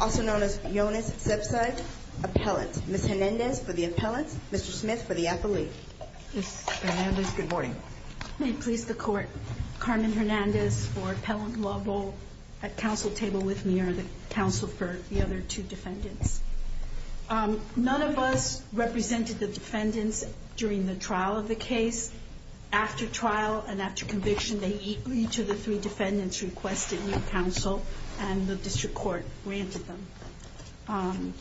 also known as Yonas Sebside, appellant. Ms. Hernandez for the appellant, Mr. Smith for the appellate. Ms. Hernandez, good morning. May it please the court, Carmen Hernandez for Appellant Law Bowl, at counsel table with me, or the counsel for the other two defendants. None of us represented the defendants during the trial of the case. After trial and after conviction, each of the three defendants requested new counsel, and the district court granted them.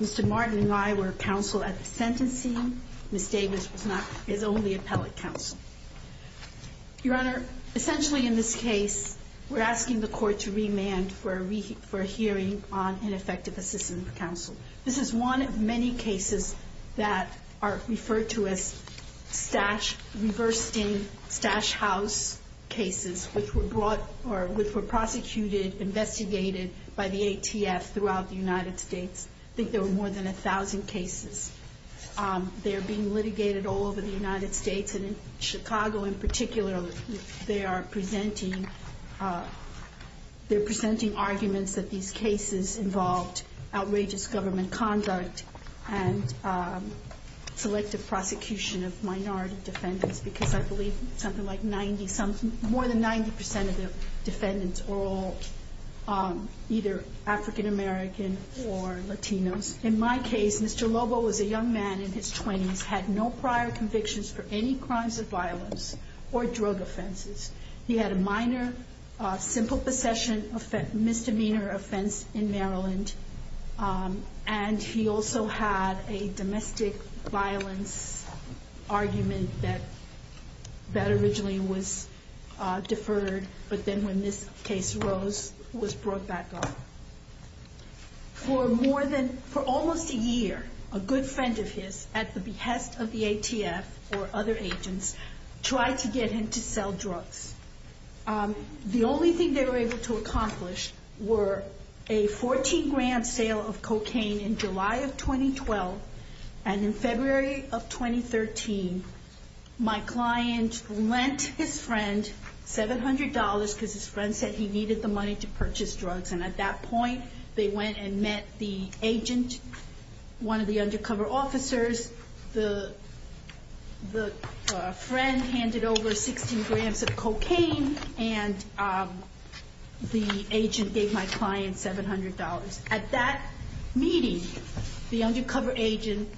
Mr. Martin and I were counsel at the sentencing. Ms. Davis is only appellate counsel. Your Honor, essentially in this case, we're asking the court to remand for a hearing on ineffective assistance counsel. This is one of many cases that are referred to as Stash, reversed in Stash House cases, which were brought or which were prosecuted, investigated by the ATF throughout the United States. I think there were more than 1,000 cases. They're being litigated all over the United States, and in Chicago in particular, they are presenting arguments that these cases involved outrageous government conduct and selective prosecution of minority defendants, because I believe something like 90, more than 90% of the defendants are all either African American or Latinos. In my case, Mr. Lobo was a young man in his 20s, had no prior convictions for any crimes of violence or drug offenses. He had a minor simple possession misdemeanor offense in Maryland, and he also had a domestic violence argument that originally was deferred, but then when this case arose, was brought back up. For more than, for almost a year, a good friend of his, at the behest of the ATF or other agents, tried to get him to sell drugs. The only thing they were able to accomplish were a 14 grand sale of cocaine in July of 2012, and in February of 2013, my client lent his friend $700 because his friend said he needed the money to purchase drugs, and at that point, they went and met the agent, one of the undercover officers. The friend handed over 16 grams of cocaine, and the agent gave my client $700. At that meeting, the undercover agent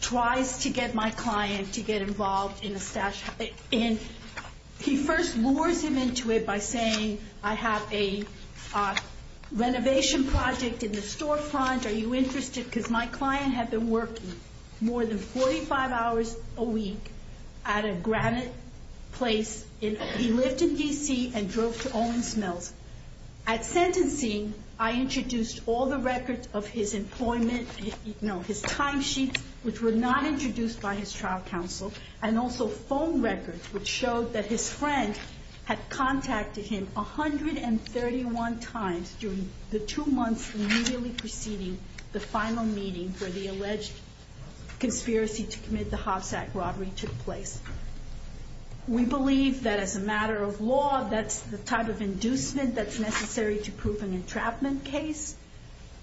tries to get my client to get involved in a stash, and he first lures him into it by saying, I have a renovation project in the storefront, are you interested? Because my client had been working more than 45 hours a week at a granite place. He lived in D.C. and drove to Ole Miss Mills. At sentencing, I introduced all the records of his employment, you know, his timesheets, which were not introduced by his trial counsel, and also phone records, which showed that his friend had contacted him 131 times during the two months immediately preceding the final sentence. And that was the final meeting for the alleged conspiracy to commit the Hopsack robbery took place. We believe that as a matter of law, that's the type of inducement that's necessary to prove an entrapment case.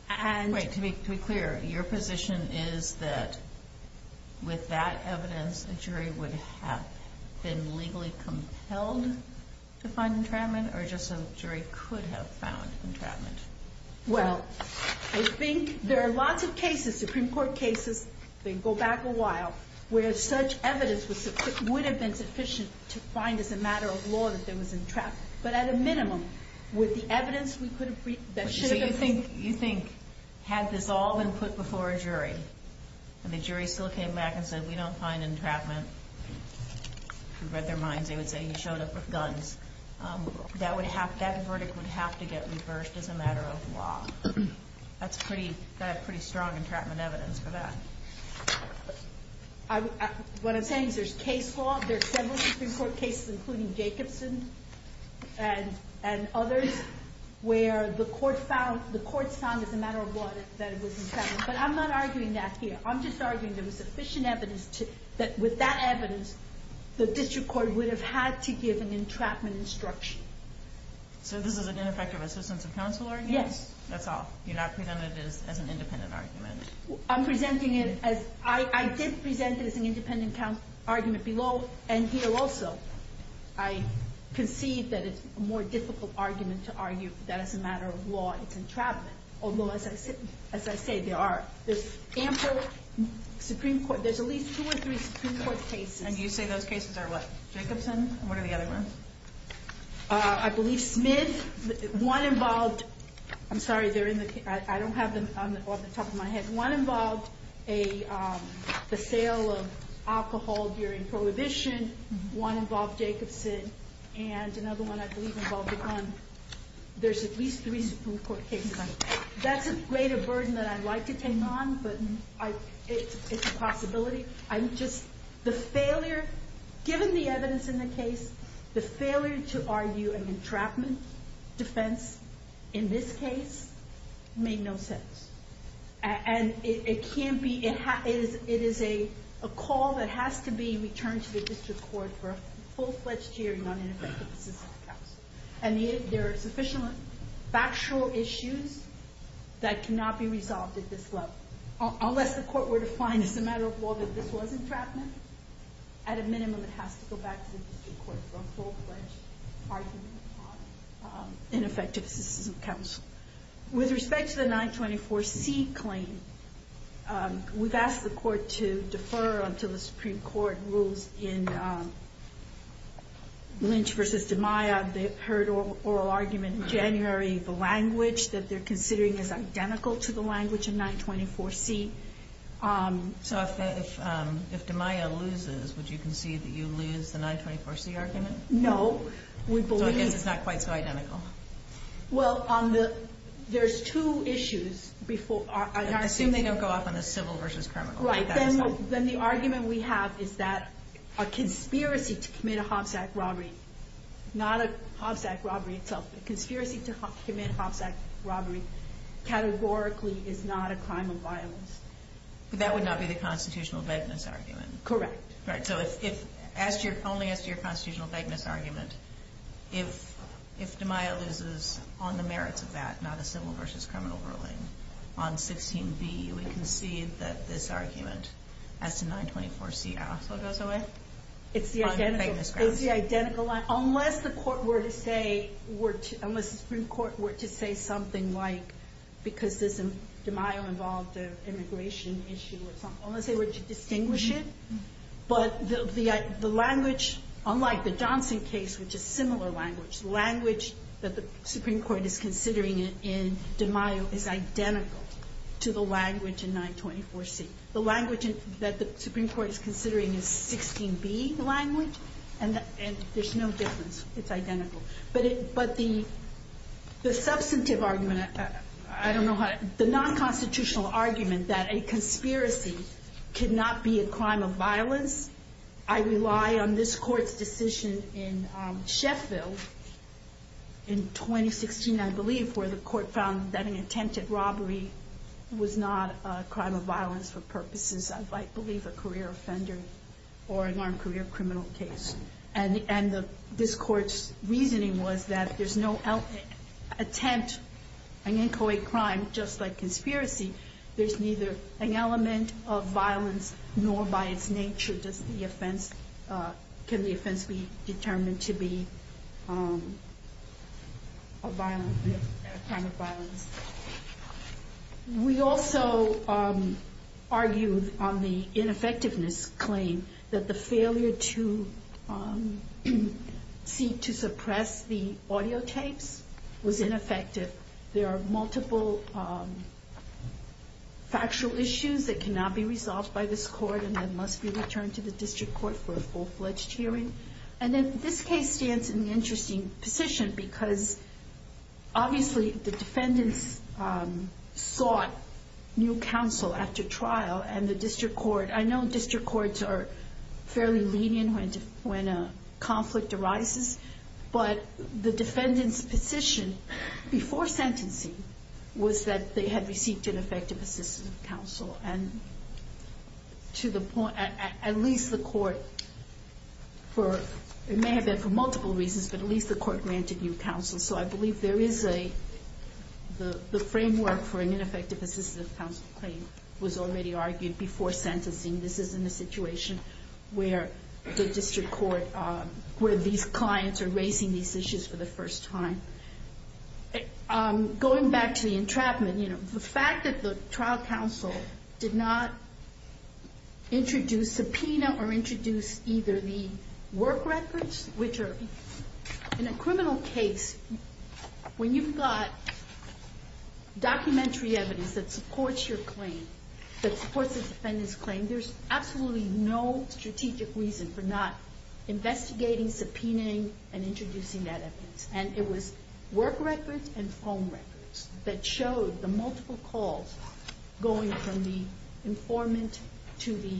Right. To be clear, your position is that with that evidence, a jury would have been legally compelled to find entrapment, or just a jury could have found entrapment? Well, I think there are lots of cases, Supreme Court cases, they go back a while, where such evidence would have been sufficient to find as a matter of law that there was entrapment. But at a minimum, with the evidence, we could have... So you think, had this all been put before a jury, and the jury still came back and said, we don't find entrapment, who read their minds, they would say he showed up with guns. That verdict would have to get reversed as a matter of law. That's pretty strong entrapment evidence for that. What I'm saying is there's several Supreme Court cases, including Jacobson and others, where the courts found as a matter of law that it was entrapment. But I'm not arguing that here. I'm just arguing there was sufficient evidence that with that evidence, the district court would have had to give an entrapment instruction. So this is an ineffective assistance of counsel argument? Yes. That's all? You're not presenting it as an independent argument? I'm presenting it as... I did present it as an independent argument below, and here also. I concede that it's a more difficult argument to argue that as a matter of law, it's entrapment. Although, as I say, there are ample Supreme Court... There's at least two or three Supreme Court cases. And you say those cases are what? Jacobson? And what are the other ones? I believe Smith. One involved... I'm sorry, they're in the... I don't have them on the top of my head. One involved a sale of alcohol during prohibition. One involved Jacobson. And another one, I believe, involved a gun. There's at least three Supreme Court cases. That's a greater burden that I'd like to take on, but it's a possibility. I'm just... The failure... Given the evidence in the case, the failure to argue an entrapment defense in this case made no sense. And it can't be... It is a call that has to be returned to the district court for a full-fledged hearing on ineffective assistance of counsel. And there are sufficient factual issues that cannot be resolved at this level. Unless the court were to find, as a matter of law, that this was entrapment, at a minimum, it has to go back to the district court for a full-fledged argument on ineffective assistance of counsel. With respect to the 924C claim, we've asked the court to defer until the Supreme Court rules in Lynch v. DiMaia. They heard oral argument in January. The language that they're considering is identical to the language in 924C. So if DiMaia loses, would you concede that you lose the 924C argument? No. We believe... So I guess it's not quite so identical. Well, on the... There's two issues before... I assume they don't go off on the civil versus criminal. Right. Then the argument we have is that a conspiracy to commit a Hobbs Act robbery, not a Hobbs Act robbery itself, but a conspiracy to commit a Hobbs Act robbery, categorically, is not a crime of violence. But that would not be the constitutional vagueness argument. Correct. Right. So only as to your constitutional vagueness argument, if DiMaia loses on the merits of that, not a civil versus criminal ruling, on 16B, we concede that this argument as to 924C also goes away? It's the identical. On vagueness grounds. But the language, unlike the Johnson case, which is similar language, the language that the Supreme Court is considering in DiMaia is identical to the language in 924C. The language that the Supreme Court is considering is 16B language, and there's no difference. It's identical. But the substantive argument, I don't know how... The non-constitutional argument that a conspiracy cannot be a crime of violence, I rely on this court's decision in Sheffield in 2016, I believe, where the court found that an attempted robbery was not a crime of violence for purposes of, I believe, a career offender or an armed career criminal case. And this court's reasoning was that there's no attempt, an inchoate crime, just like conspiracy, there's neither an element of violence nor by its nature can the offense be determined to be a crime of violence. We also argued on the ineffectiveness claim that the failure to seek to suppress the audio tapes was ineffective. There are multiple factual issues that cannot be resolved by this court and that must be returned to the district court for a full-fledged hearing. And then this case stands in an interesting position because, obviously, the defendants sought new counsel after trial, and the district court... I know district courts are fairly lenient when a conflict arises, but the defendants' position before sentencing was that they had received an effective assistant counsel. And to the point, at least the court, it may have been for multiple reasons, but at least the court granted new counsel. So I believe there is a... the framework for an ineffective assistant counsel claim was already argued before sentencing. This isn't a situation where the district court, where these clients are raising these issues for the first time. Going back to the entrapment, the fact that the trial counsel did not introduce, subpoena, or introduce either the work records, which are... in a criminal case, when you've got documentary evidence that supports your claim, that supports the defendant's claim, there's absolutely no strategic reason for not investigating, subpoenaing, and introducing that evidence. And it was work records and phone records that showed the multiple calls going from the informant to the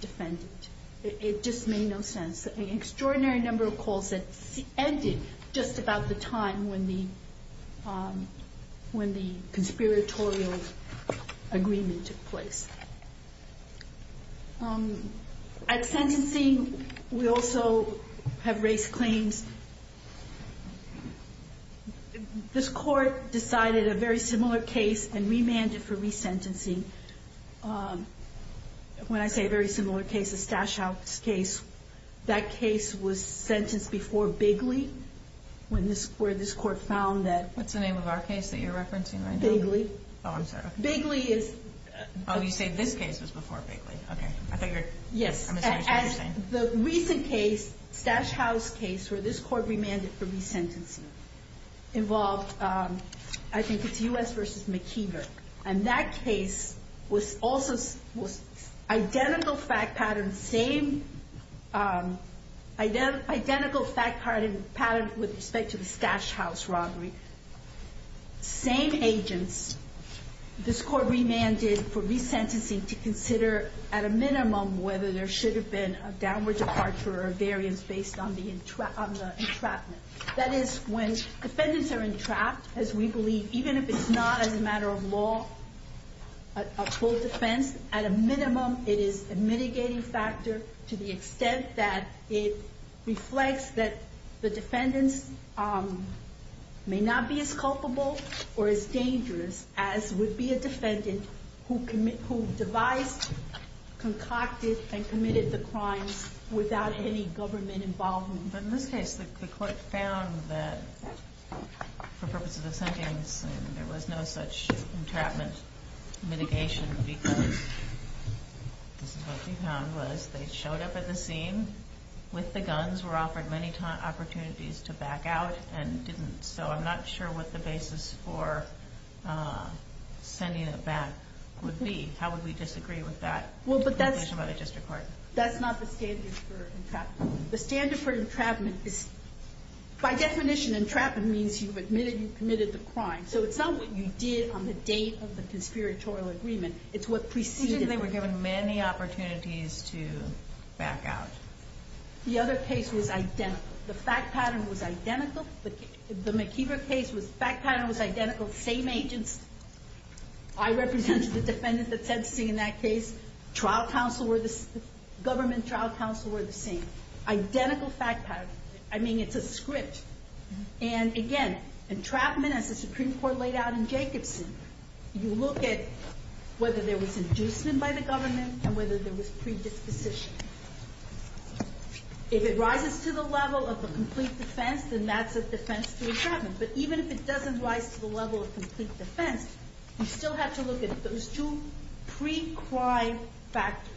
defendant. It just made no sense. An extraordinary number of calls that ended just about the time when the... when the conspiratorial agreement took place. At sentencing, we also have race claims. This court decided a very similar case and remanded for resentencing. When I say a very similar case, the Stash House case, that case was sentenced before Bigley, where this court found that... What's the name of our case that you're referencing right now? Bigley. Oh, I'm sorry. Bigley is... Oh, you say this case was before Bigley. Okay. I thought you were... Yes. I'm assuming that's what you're saying. This court remanded for resentencing to consider, at a minimum, whether there should have been a downward departure or a variance based on the entrapment. That is, when defendants are entrapped, as we believe, even if it's not as a matter of law, a full defense, at a minimum, it is a mitigating factor to the extent that it reflects that the defendants may not be as culpable or as dangerous as would be a defendant who devised, concocted, and committed the crimes without any government involvement. But in this case, the court found that, for purposes of sentencing, there was no such entrapment mitigation because, this is what we found, was they showed up at the scene with the guns, were offered many opportunities to back out, and didn't. So I'm not sure what the basis for sending it back would be. How would we disagree with that? Well, but that's... By definition, entrapment means you've admitted you've committed the crime. So it's not what you did on the date of the conspiratorial agreement. It's what preceded it. They were given many opportunities to back out. The other case was identical. The fact pattern was identical. The McKeever case, the fact pattern was identical. Same agents. I represented the defendant that sentencing in that case. Government trial counsel were the same. Identical fact pattern. I mean, it's a script. And again, entrapment, as the Supreme Court laid out in Jacobson, you look at whether there was inducement by the government and whether there was predisposition. If it rises to the level of the complete defense, then that's a defense to entrapment. But even if it doesn't rise to the level of complete defense, you still have to look at those two pre-crime factors.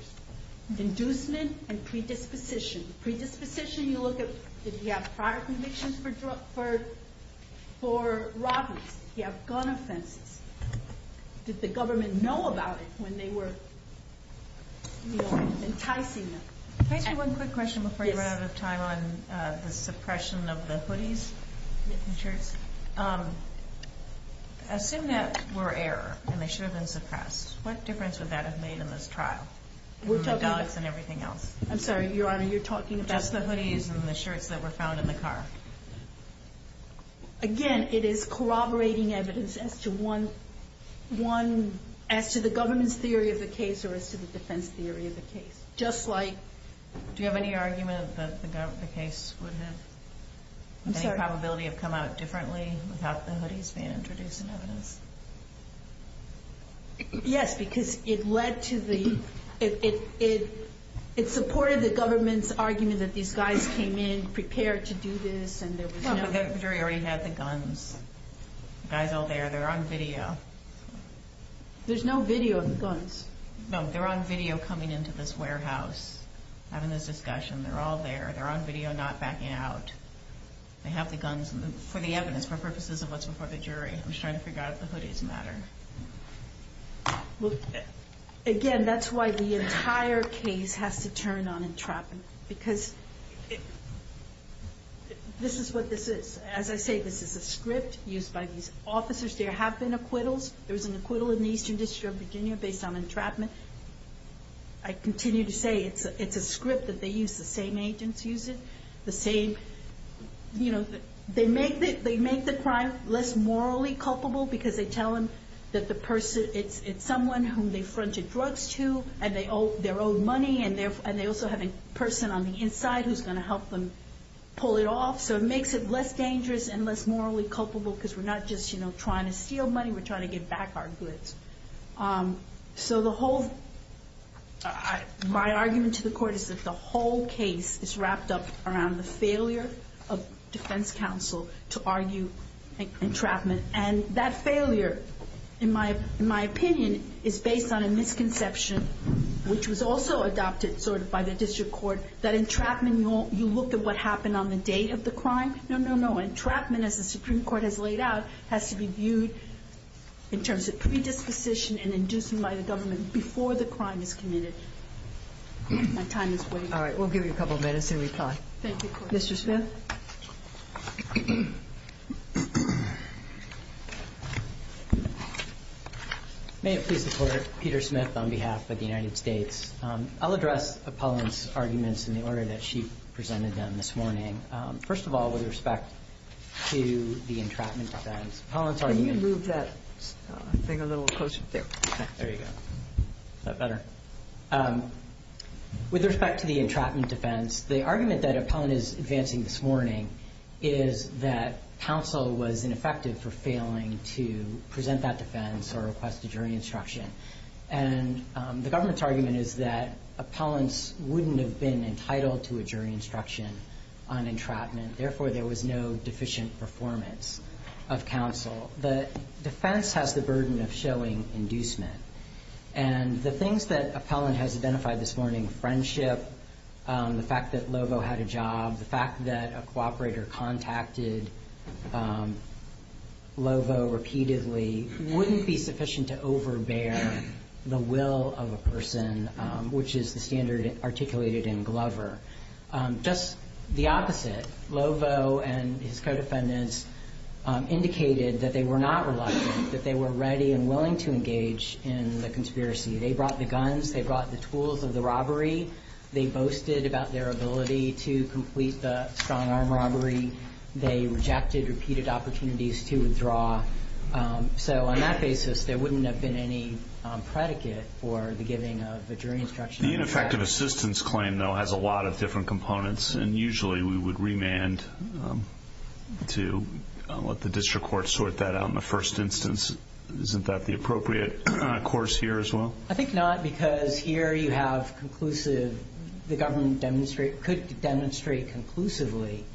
Inducement and predisposition. Predisposition, you look at if you have prior convictions for robberies, if you have gun offenses. Did the government know about it when they were enticing them? Can I ask you one quick question before you run out of time on the suppression of the hoodies? Assume that were error and they should have been suppressed. What difference would that have made in this trial? I'm sorry, Your Honor, you're talking about the hoodies and the shirts that were found in the car? Again, it is corroborating evidence as to one, as to the government's theory of the case or as to the defense theory of the case. Do you have any argument that the case would have, the probability would have come out differently without the hoodies being introduced in evidence? Yes, because it led to the... It supported the government's argument that these guys came in prepared to do this and there was no... No, but the jury already had the guns. The guy's all there. They're on video. There's no video of the guns. No, they're on video coming into this warehouse, having this discussion. They're all there. They're on video not backing out. They have the guns for the evidence, for purposes of what's before the jury. I'm just trying to figure out if the hoodies matter. Again, that's why the entire case has to turn on entrapment because this is what this is. As I say, this is a script used by these officers. There have been acquittals. There was an acquittal in the Eastern District of Virginia based on entrapment. I continue to say it's a script that they use. The same agents use it. They make the crime less morally culpable because they tell them that the person... It's someone whom they fronted drugs to and they owe their own money. They also have a person on the inside who's going to help them pull it off. It makes it less dangerous and less morally culpable because we're not just trying to steal money. We're trying to get back our goods. My argument to the court is that the whole case is wrapped up around the failure of defense counsel to argue entrapment. That failure, in my opinion, is based on a misconception which was also adopted by the district court. That entrapment, you looked at what happened on the date of the crime. No, no, no. Entrapment, as the Supreme Court has laid out, has to be viewed in terms of predisposition and inducing by the government before the crime is committed. My time is waiting. All right. We'll give you a couple of minutes to reply. Thank you, Court. Mr. Smith? May it please the Court, Peter Smith on behalf of the United States. I'll address Apollon's arguments in the order that she presented them this morning. First of all, with respect to the entrapment defense, Apollon's argument- Can you move that thing a little closer? There. Okay. There you go. Is that better? With respect to the entrapment defense, the argument that Apollon is advancing this morning is that counsel was ineffective for failing to present that defense or request a jury instruction. And the government's argument is that Apollon's wouldn't have been entitled to a jury instruction on entrapment. Therefore, there was no deficient performance of counsel. The defense has the burden of showing inducement. And the things that Apollon has identified this morning, friendship, the fact that Lovo had a job, the fact that a cooperator contacted Lovo repeatedly wouldn't be sufficient to overbear the will of a person, which is the standard articulated in Glover. Just the opposite. Lovo and his co-defendants indicated that they were not reluctant, that they were ready and willing to engage in the conspiracy. They brought the guns. They brought the tools of the robbery. They boasted about their ability to complete the strong-arm robbery. They rejected repeated opportunities to withdraw. So on that basis, there wouldn't have been any predicate for the giving of a jury instruction. The ineffective assistance claim, though, has a lot of different components. And usually we would remand to let the district court sort that out in the first instance. Isn't that the appropriate course here as well? I think not, because here you have conclusive. The government could demonstrate conclusively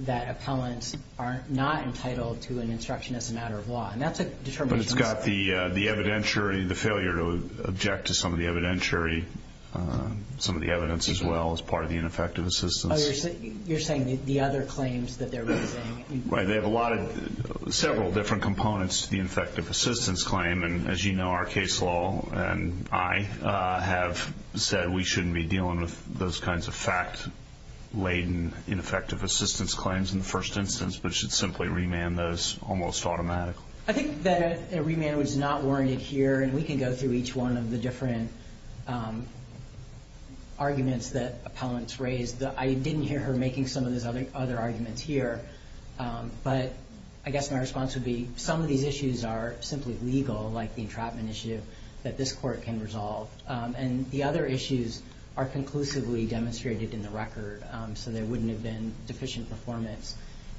that appellants are not entitled to an instruction as a matter of law. And that's a determination. But it's got the evidentiary, the failure to object to some of the evidentiary, some of the evidence as well as part of the ineffective assistance. Oh, you're saying the other claims that they're raising. Right. They have a lot of several different components to the ineffective assistance claim. And as you know, our case law and I have said we shouldn't be dealing with those kinds of fact-laden ineffective assistance claims in the first instance, but should simply remand those almost automatically. I think that a remand was not warranted here. And we can go through each one of the different arguments that appellants raised. I didn't hear her making some of those other arguments here. But I guess my response would be some of these issues are simply legal, like the entrapment issue, that this court can resolve. And the other issues are conclusively demonstrated in the record, so there wouldn't have been deficient performance.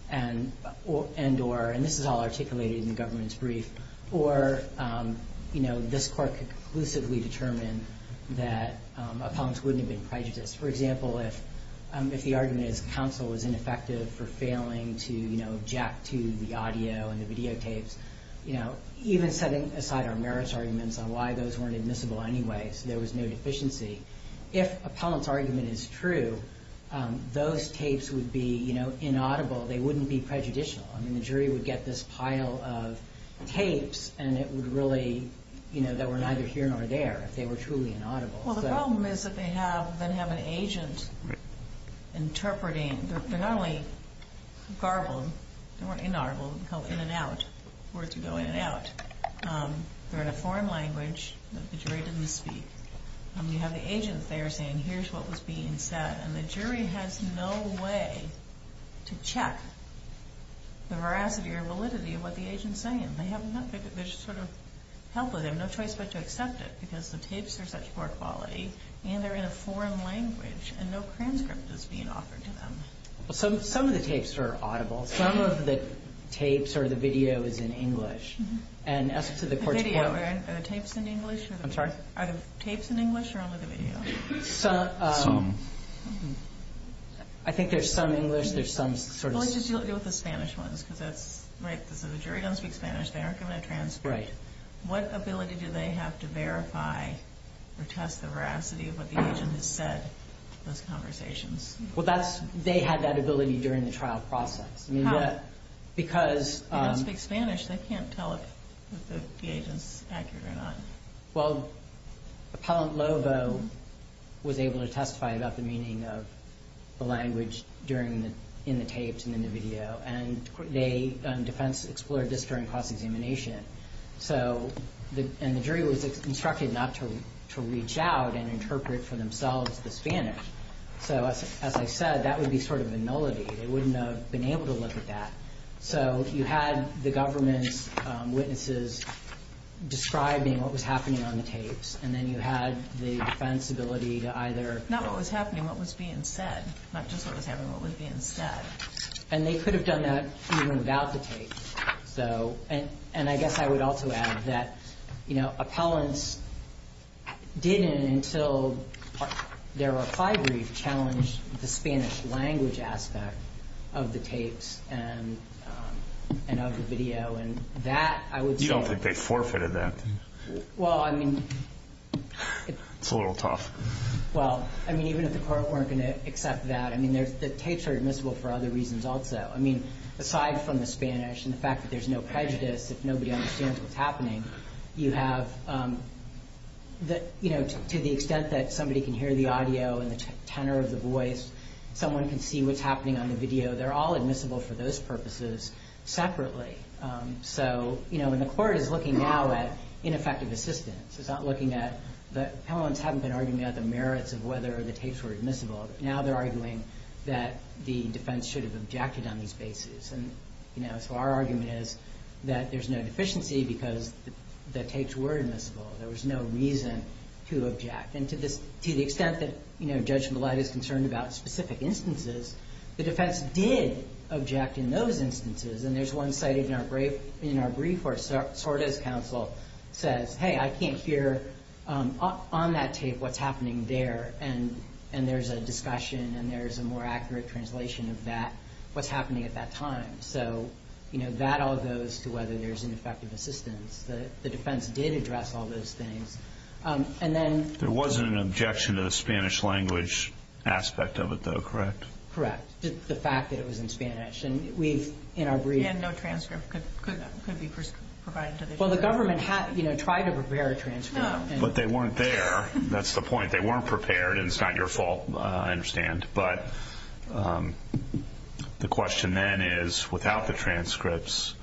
And this is all articulated in the government's brief. Or, you know, this court could conclusively determine that appellants wouldn't have been prejudiced. For example, if the argument is counsel was ineffective for failing to, you know, jack to the audio and the videotapes, you know, even setting aside our merits arguments on why those weren't admissible anyway so there was no deficiency. If appellant's argument is true, those tapes would be, you know, inaudible. They wouldn't be prejudicial. I mean, the jury would get this pile of tapes and it would really, you know, they were neither here nor there if they were truly inaudible. Well, the problem is that they have then have an agent interpreting. They're not only garbled. They weren't inaudible. They were called in and out, words would go in and out. They're in a foreign language that the jury didn't speak. And you have the agent there saying, here's what was being said. And the jury has no way to check the veracity or validity of what the agent's saying. They have nothing. They're just sort of helpless. So they have no choice but to accept it because the tapes are such poor quality and they're in a foreign language and no transcript is being offered to them. Well, some of the tapes are audible. Some of the tapes or the video is in English. And as to the court's point where the tapes in English or the video. I'm sorry? Are the tapes in English or only the video? Some. I think there's some English. There's some sort of. Well, let's just deal with the Spanish ones because that's right. So the jury doesn't speak Spanish. They aren't given a transcript. Right. What ability do they have to verify or test the veracity of what the agent has said in those conversations? Well, they had that ability during the trial process. How? Because. They don't speak Spanish. They can't tell if the agent's accurate or not. Well, Appellant Lovo was able to testify about the meaning of the language in the tapes and in the video. And the defense explored this during cross-examination. And the jury was instructed not to reach out and interpret for themselves the Spanish. So, as I said, that would be sort of a nullity. They wouldn't have been able to look at that. So you had the government's witnesses describing what was happening on the tapes. And then you had the defense ability to either. Not what was happening. What was being said. Not just what was happening. What was being said. And they could have done that even without the tape. So. And I guess I would also add that, you know, appellants didn't, until there were five briefs, challenge the Spanish language aspect of the tapes and of the video. And that, I would say. You don't think they forfeited that? Well, I mean. It's a little tough. Well, I mean, even if the court weren't going to accept that. I mean, the tapes are admissible for other reasons also. I mean, aside from the Spanish and the fact that there's no prejudice. If nobody understands what's happening. You have. That, you know, to the extent that somebody can hear the audio and the tenor of the voice. Someone can see what's happening on the video. They're all admissible for those purposes separately. So, you know, when the court is looking now at ineffective assistance. It's not looking at. The appellants haven't been arguing about the merits of whether the tapes were admissible. Now they're arguing that the defense should have objected on these bases. And, you know, so our argument is that there's no deficiency because the tapes were admissible. There was no reason to object. And to the extent that, you know, Judge Millett is concerned about specific instances. The defense did object in those instances. And there's one cited in our brief where Sorda's counsel says. Hey, I can't hear on that tape what's happening there. And there's a discussion. And there's a more accurate translation of that. What's happening at that time. So, you know, that all goes to whether there's ineffective assistance. The defense did address all those things. And then. There wasn't an objection to the Spanish language aspect of it, though, correct? Correct. The fact that it was in Spanish. And we've, in our brief. And no transcript could be provided. Well, the government had, you know, tried to prepare a transcript. But they weren't there. That's the point. They weren't prepared. And it's not your fault. I understand. But the question then is, without the transcripts.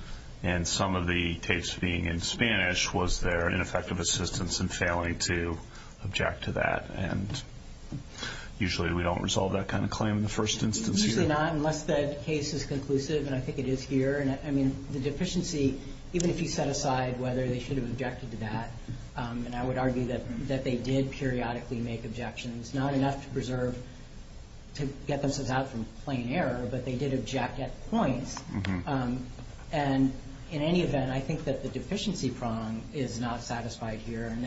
And some of the tapes being in Spanish. Was there an ineffective assistance in failing to object to that? And usually we don't resolve that kind of claim in the first instance. Usually not. Unless that case is conclusive. And I think it is here. And, I mean, the deficiency. Even if you set aside whether they should have objected to that. And I would argue that they did periodically make objections. Not enough to preserve. To get themselves out from plain error. But they did object at points. And in any event, I think that the deficiency prong is not satisfied here. And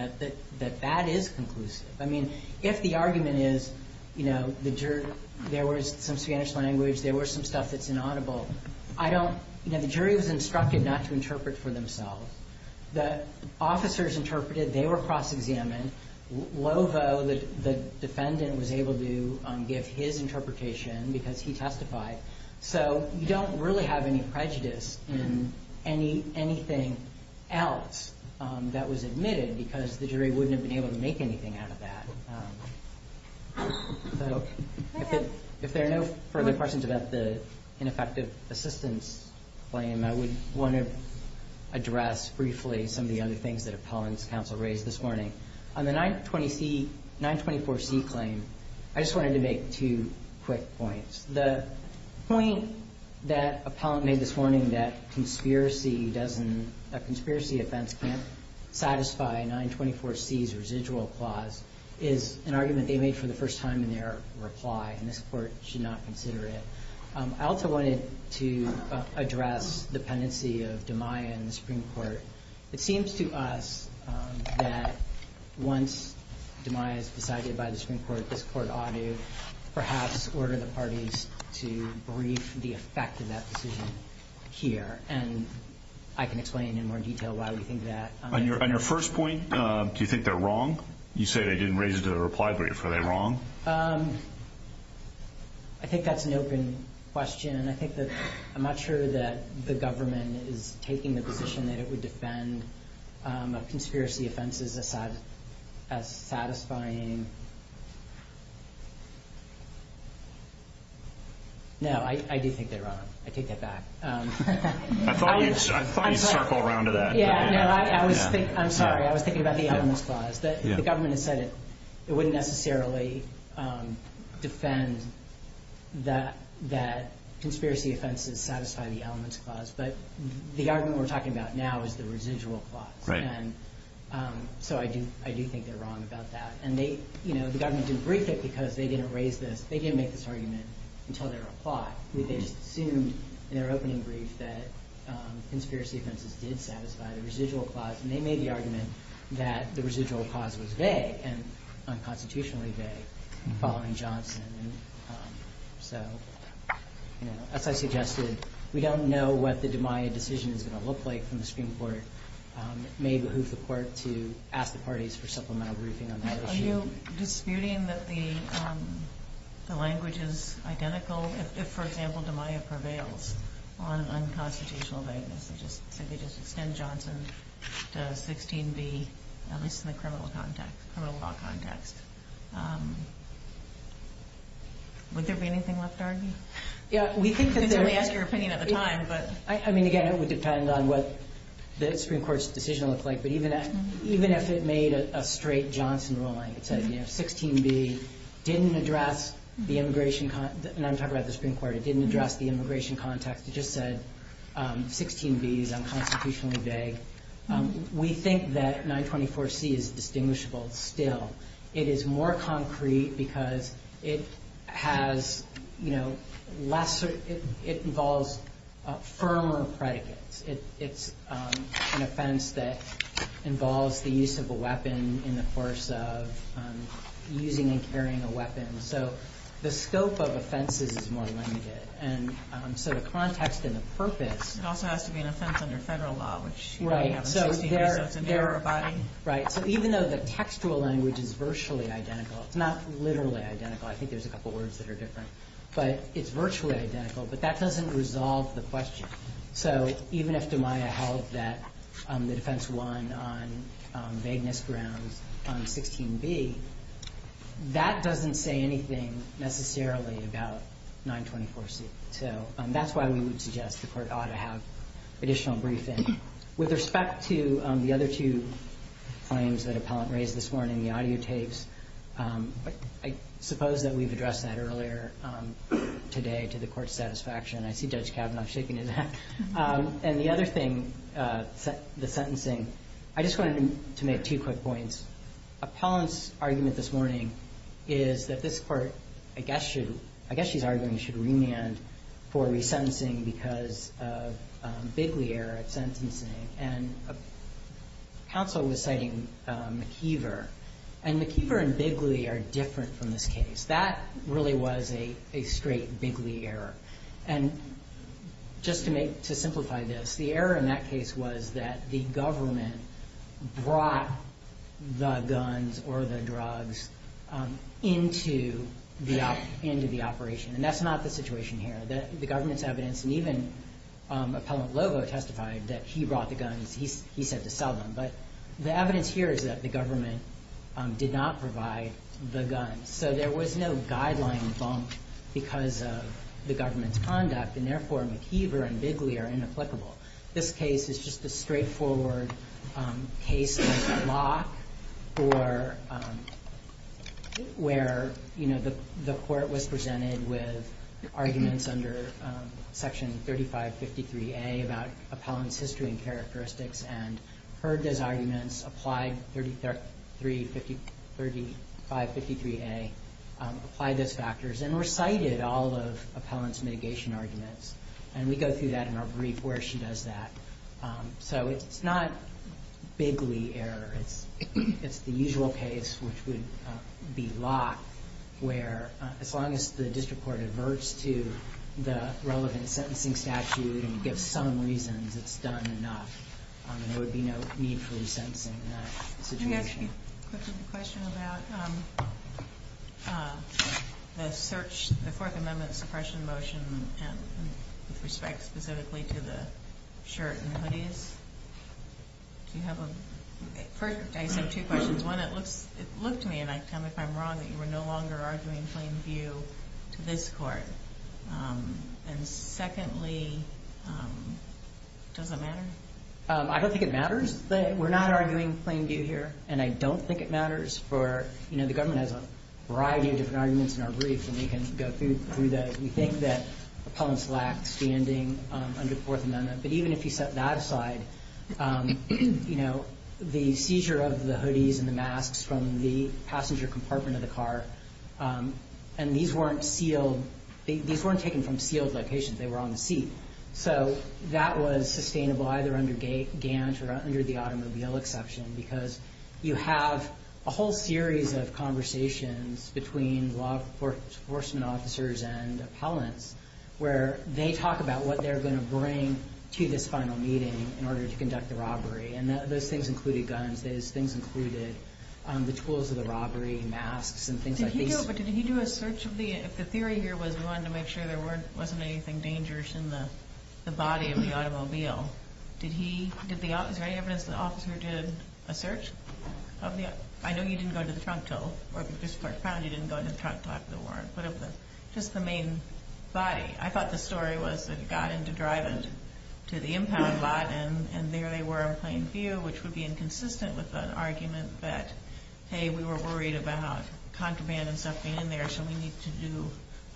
that that is conclusive. I mean, if the argument is, you know, the jury. There was some Spanish language. There was some stuff that's inaudible. I don't. You know, the jury was instructed not to interpret for themselves. The officers interpreted. They were cross-examined. Lovo, the defendant, was able to give his interpretation. Because he testified. So, you don't really have any prejudice in anything else that was admitted. Because the jury wouldn't have been able to make anything out of that. So, if there are no further questions about the ineffective assistance claim. I would want to address briefly some of the other things that appellant's counsel raised this morning. On the 924C claim, I just wanted to make two quick points. The point that appellant made this morning that conspiracy doesn't. That conspiracy offense can't satisfy 924C's residual clause. Is an argument they made for the first time in their reply. And this court should not consider it. I also wanted to address dependency of DiMaia in the Supreme Court. It seems to us that once DiMaia is decided by the Supreme Court, this court ought to perhaps order the parties to brief the effect of that decision here. And I can explain in more detail why we think that. On your first point, do you think they're wrong? You say they didn't raise it in a reply brief. Are they wrong? I think that's an open question. And I think that I'm not sure that the government is taking the position that it would defend conspiracy offenses as satisfying. No, I do think they're wrong. I take that back. I thought we circled around to that. I'm sorry. I was thinking about the onus clause. The government has said it wouldn't necessarily defend that conspiracy offenses satisfy the elements clause. But the argument we're talking about now is the residual clause. Right. And so I do think they're wrong about that. And, you know, the government didn't brief it because they didn't raise this. They didn't make this argument until their reply. They just assumed in their opening brief that conspiracy offenses did satisfy the residual clause. And they made the argument that the residual clause was vague and unconstitutionally vague, following Johnson. And so, you know, as I suggested, we don't know what the DeMaio decision is going to look like from the Supreme Court. It may behoove the court to ask the parties for supplemental briefing on that issue. Are you disputing that the language is identical if, for example, DeMaio prevails on unconstitutional vagueness? They just said they just extend Johnson to 16B, at least in the criminal context, criminal law context. Would there be anything left to argue? Yeah, we think that there is. We asked your opinion at the time, but. I mean, again, it would depend on what the Supreme Court's decision looks like. But even if it made a straight Johnson ruling, it said, you know, 16B didn't address the immigration. And I'm talking about the Supreme Court. It didn't address the immigration context. It just said 16B is unconstitutionally vague. We think that 924C is distinguishable still. It is more concrete because it has, you know, lesser – it involves firmer predicates. It's an offense that involves the use of a weapon in the course of using and carrying a weapon. So the scope of offenses is more limited. And so the context and the purpose. It also has to be an offense under federal law, which we have in 16B. So it's an error of body. Right. So even though the textual language is virtually identical, it's not literally identical. I think there's a couple words that are different. But it's virtually identical. But that doesn't resolve the question. So even if DiMaio held that the defense won on vagueness grounds on 16B, that doesn't say anything necessarily about 924C. So that's why we would suggest the court ought to have additional briefing. With respect to the other two claims that appellant raised this morning, the audio tapes, I suppose that we've addressed that earlier today to the court's satisfaction. I see Judge Kavanaugh shaking his head. And the other thing, the sentencing, I just wanted to make two quick points. Appellant's argument this morning is that this court, I guess she's arguing, should remand for resentencing because of Bigley error at sentencing. And counsel was citing McKeever. And McKeever and Bigley are different from this case. That really was a straight Bigley error. And just to simplify this, the error in that case was that the government brought the guns or the drugs into the operation. And that's not the situation here. The government's evidence, and even appellant Lovo testified that he brought the guns. He said to sell them. But the evidence here is that the government did not provide the guns. So there was no guideline bump because of the government's conduct. And therefore, McKeever and Bigley are inapplicable. This case is just a straightforward case of flock where the court was presented with arguments under Section 3553A about appellant's history and characteristics and heard those arguments, applied 3553A, applied those factors, and recited all of appellant's mitigation arguments. And we go through that in our brief where she does that. So it's not Bigley error. It's the usual case, which would be lock, where as long as the district court adverts to the relevant sentencing statute and gives some reasons, it's done enough. And there would be no need for resentencing in that situation. I have a question about the search, the Fourth Amendment suppression motion with respect specifically to the shirt and hoodies. Do you have a... First, I just have two questions. One, it looked to me, and I can tell you if I'm wrong, that you were no longer arguing plain view to this court. And secondly, does it matter? I don't think it matters. We're not arguing plain view here, and I don't think it matters. The government has a variety of different arguments in our brief, and we can go through those. We think that appellants lack standing under the Fourth Amendment. But even if you set that aside, the seizure of the hoodies and the masks from the passenger compartment of the car, and these weren't sealed. These weren't taken from sealed locations. They were on the seat. So that was sustainable, either under Gant or under the automobile exception, because you have a whole series of conversations between law enforcement officers and appellants, where they talk about what they're going to bring to this final meeting in order to conduct the robbery. And those things included guns. Those things included the tools of the robbery, masks, and things like these. No, but did he do a search of the – if the theory here was we wanted to make sure there wasn't anything dangerous in the body of the automobile, did he – is there any evidence the officer did a search of the – I know you didn't go to the trunk till – or if you just flipped around, you didn't go to the trunk till after the war and put up just the main body. I thought the story was that he got into driving to the impound lot, and there they were in plain view, which would be inconsistent with an argument that, hey, we were worried about contraband and stuff being in there, so we need to do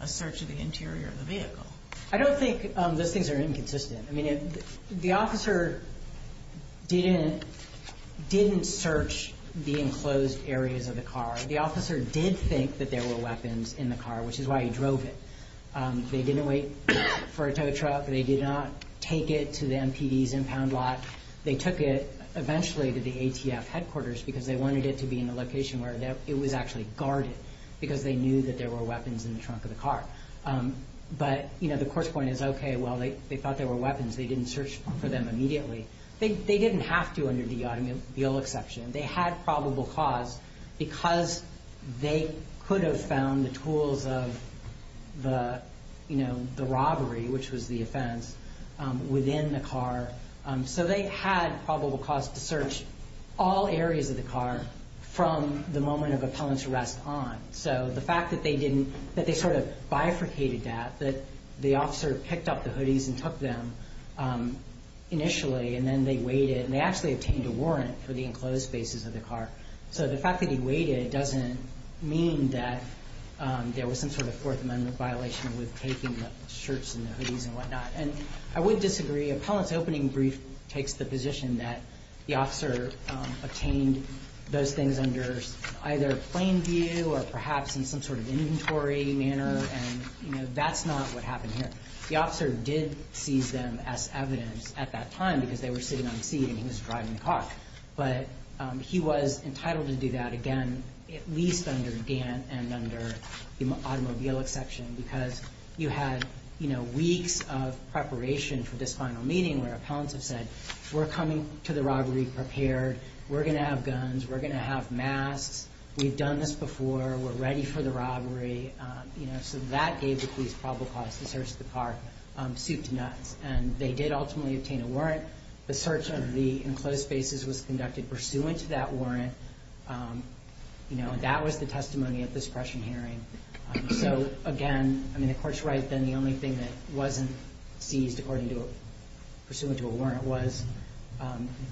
a search of the interior of the vehicle. I don't think those things are inconsistent. I mean, the officer didn't search the enclosed areas of the car. The officer did think that there were weapons in the car, which is why he drove it. They didn't wait for a tow truck. They did not take it to the MPD's impound lot. They took it eventually to the ATF headquarters because they wanted it to be in a location where it was actually guarded because they knew that there were weapons in the trunk of the car. But, you know, the course point is, okay, well, they thought there were weapons. They didn't search for them immediately. They didn't have to under the automobile exception. They had probable cause because they could have found the tools of the, you know, the robbery, which was the offense, within the car. So they had probable cause to search all areas of the car from the moment of appellant's arrest on. So the fact that they sort of bifurcated that, that the officer picked up the hoodies and took them initially and then they waited and they actually obtained a warrant for the enclosed spaces of the car. So the fact that he waited doesn't mean that there was some sort of Fourth Amendment violation with taking the shirts and the hoodies and whatnot. And I would disagree. Appellant's opening brief takes the position that the officer obtained those things under either plain view or perhaps in some sort of inventory manner. And, you know, that's not what happened here. The officer did seize them as evidence at that time because they were sitting on the seat and he was driving the car. But he was entitled to do that, again, at least under Gant and under the automobile exception because you had, you know, weeks of preparation for this final meeting where appellants have said, we're coming to the robbery prepared. We're going to have guns. We're going to have masks. We've done this before. We're ready for the robbery. You know, so that gave the police probable cause to search the car soup to nuts. And they did ultimately obtain a warrant. The search of the enclosed spaces was conducted pursuant to that warrant. You know, and that was the testimony at this prescient hearing. So, again, I mean, the Court's right then the only thing that wasn't seized according to, pursuant to a warrant was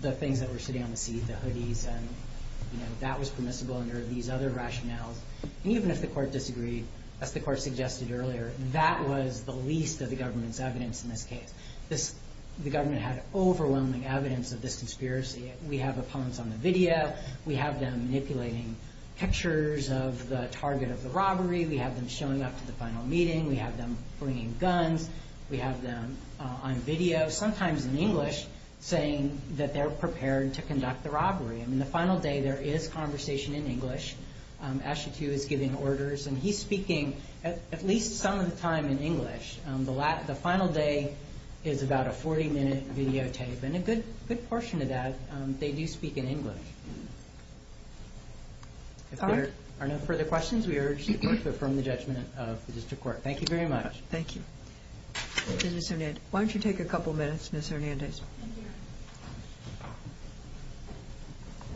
the things that were sitting on the seat, the hoodies. And, you know, that was permissible under these other rationales. And even if the Court disagreed, as the Court suggested earlier, that was the least of the government's evidence in this case. The government had overwhelming evidence of this conspiracy. We have appellants on the video. We have them manipulating pictures of the target of the robbery. We have them showing up to the final meeting. We have them bringing guns. We have them on video, sometimes in English, saying that they're prepared to conduct the robbery. I mean, the final day there is conversation in English. Ashton too is giving orders. And he's speaking at least some of the time in English. The final day is about a 40-minute videotape. And a good portion of that, they do speak in English. If there are no further questions, we urge the Court to affirm the judgment of the District Court. Thank you very much. Thank you. Ms. Hernandez, why don't you take a couple minutes, Ms. Hernandez?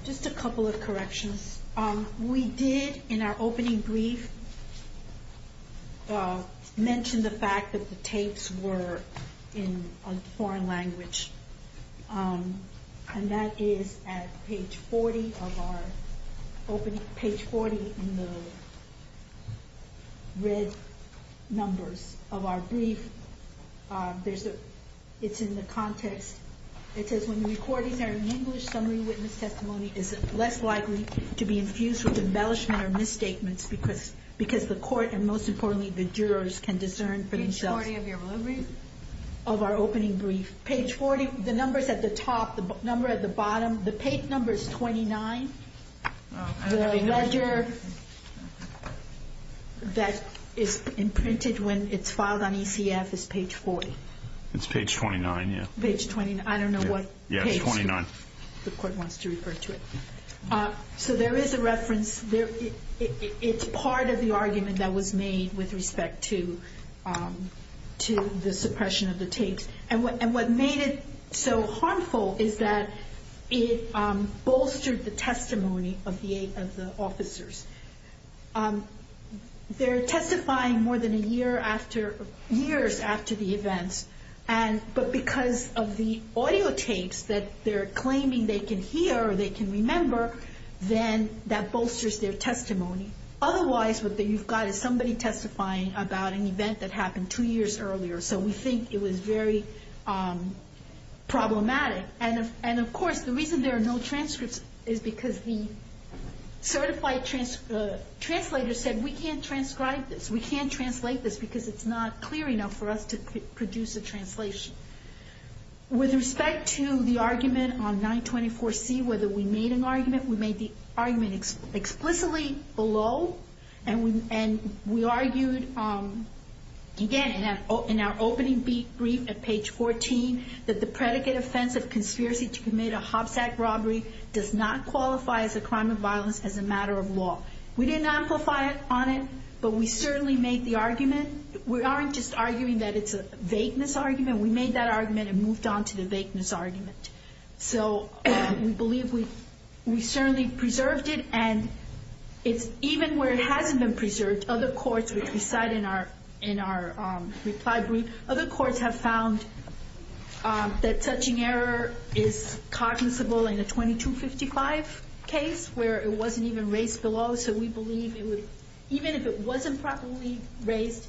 Just a couple of corrections. We did, in our opening brief, mention the fact that the tapes were in a foreign language. And that is at page 40 of our opening, page 40 in the red numbers of our brief. It's in the context. It says, when the recordings are in English, summary witness testimony is less likely to be infused with embellishment or misstatements, because the Court, and most importantly, the jurors, can discern for themselves. Page 40 of your brief? Of our opening brief. Page 40, the numbers at the top, the number at the bottom, the taped number is 29. The ledger that is imprinted when it's filed on ECF is page 40. It's page 29, yeah. Page 29, I don't know what page the Court wants to refer to it. So there is a reference. It's part of the argument that was made with respect to the suppression of the tapes. And what made it so harmful is that it bolstered the testimony of the officers. They're testifying more than a year after, years after the events. But because of the audio tapes that they're claiming they can hear or they can remember, then that bolsters their testimony. Otherwise, what you've got is somebody testifying about an event that happened two years earlier. So we think it was very problematic. And of course, the reason there are no transcripts is because the certified translator said, we can't transcribe this. We can't translate this because it's not clear enough for us to produce a translation. With respect to the argument on 924C, whether we made an argument, we made the argument explicitly below. And we argued, again, in our opening brief at page 14, that the predicate offense of conspiracy to commit a hopsack robbery does not qualify as a crime of violence as a matter of law. We didn't amplify it on it, but we certainly made the argument. We aren't just arguing that it's a vagueness argument. We made that argument and moved on to the vagueness argument. So we believe we certainly preserved it. And even where it hasn't been preserved, other courts, which we cite in our reply brief, other courts have found that touching error is cognizable in a 2255 case where it wasn't even raised below. So we believe it would, even if it wasn't properly raised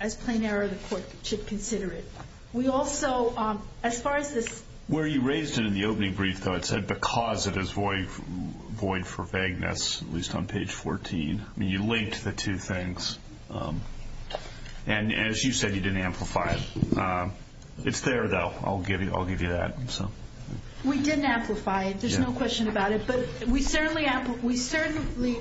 as plain error, the court should consider it. We also, as far as this... Where you raised it in the opening brief, though, it said because it is void for vagueness, at least on page 14. You linked the two things. And as you said, you didn't amplify it. It's there, though. I'll give you that. We didn't amplify it. There's no question about it. But we certainly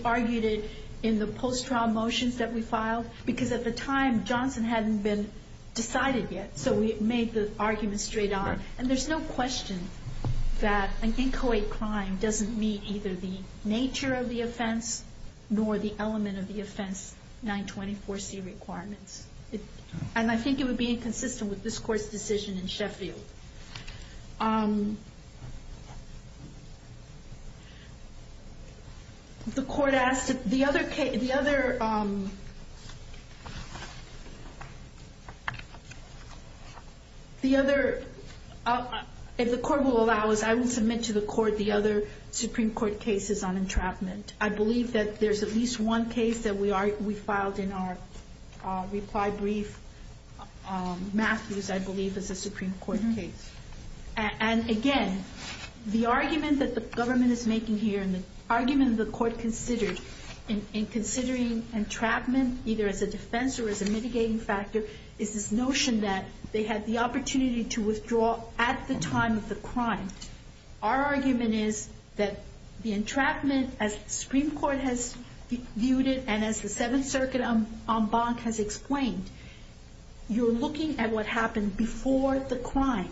argued it in the post-trial motions that we filed because at the time, Johnson hadn't been decided yet. So we made the argument straight on. And there's no question that an inchoate crime doesn't meet either the nature of the offense nor the element of the offense 924C requirements. And I think it would be inconsistent with this Court's decision in Sheffield. The Court asked... The other... The other... If the Court will allow us, I will submit to the Court the other Supreme Court cases on entrapment. I believe that there's at least one case that we filed in our reply brief. Matthews, I believe, is a Supreme Court case. And again, the argument that the government is making here and the argument the Court considered in considering entrapment either as a defense or as a mitigating factor is this notion that they had the opportunity to withdraw at the time of the crime. Our argument is that the entrapment, as the Supreme Court has viewed it and as the Seventh Circuit en banc has explained, you're looking at what happened before the crime.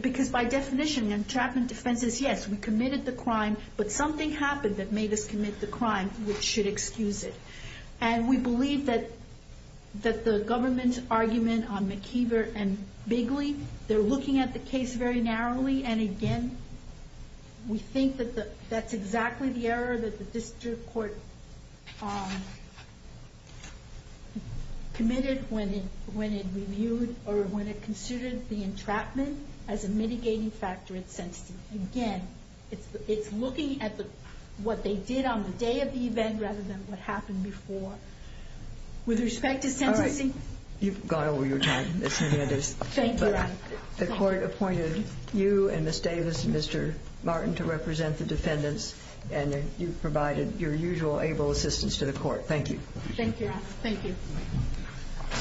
Because by definition, entrapment defense is, yes, we committed the crime but something happened that made us commit the crime which should excuse it. And we believe that the government's argument on McKeever and Bigley, they're looking at the case very narrowly. And again, we think that that's exactly the error that the District Court committed when it reviewed or when it considered the entrapment as a mitigating factor in sentencing. Again, it's looking at what they did on the day of the event rather than what happened before. With respect to sentencing... All right, you've gone over your time, Ms. Hernandez. Thank you, Your Honor. The Court appointed you and Ms. Davis and Mr. Martin to represent the defendants and you provided your usual able assistance to the Court. Thank you. Thank you, Your Honor. Thank you.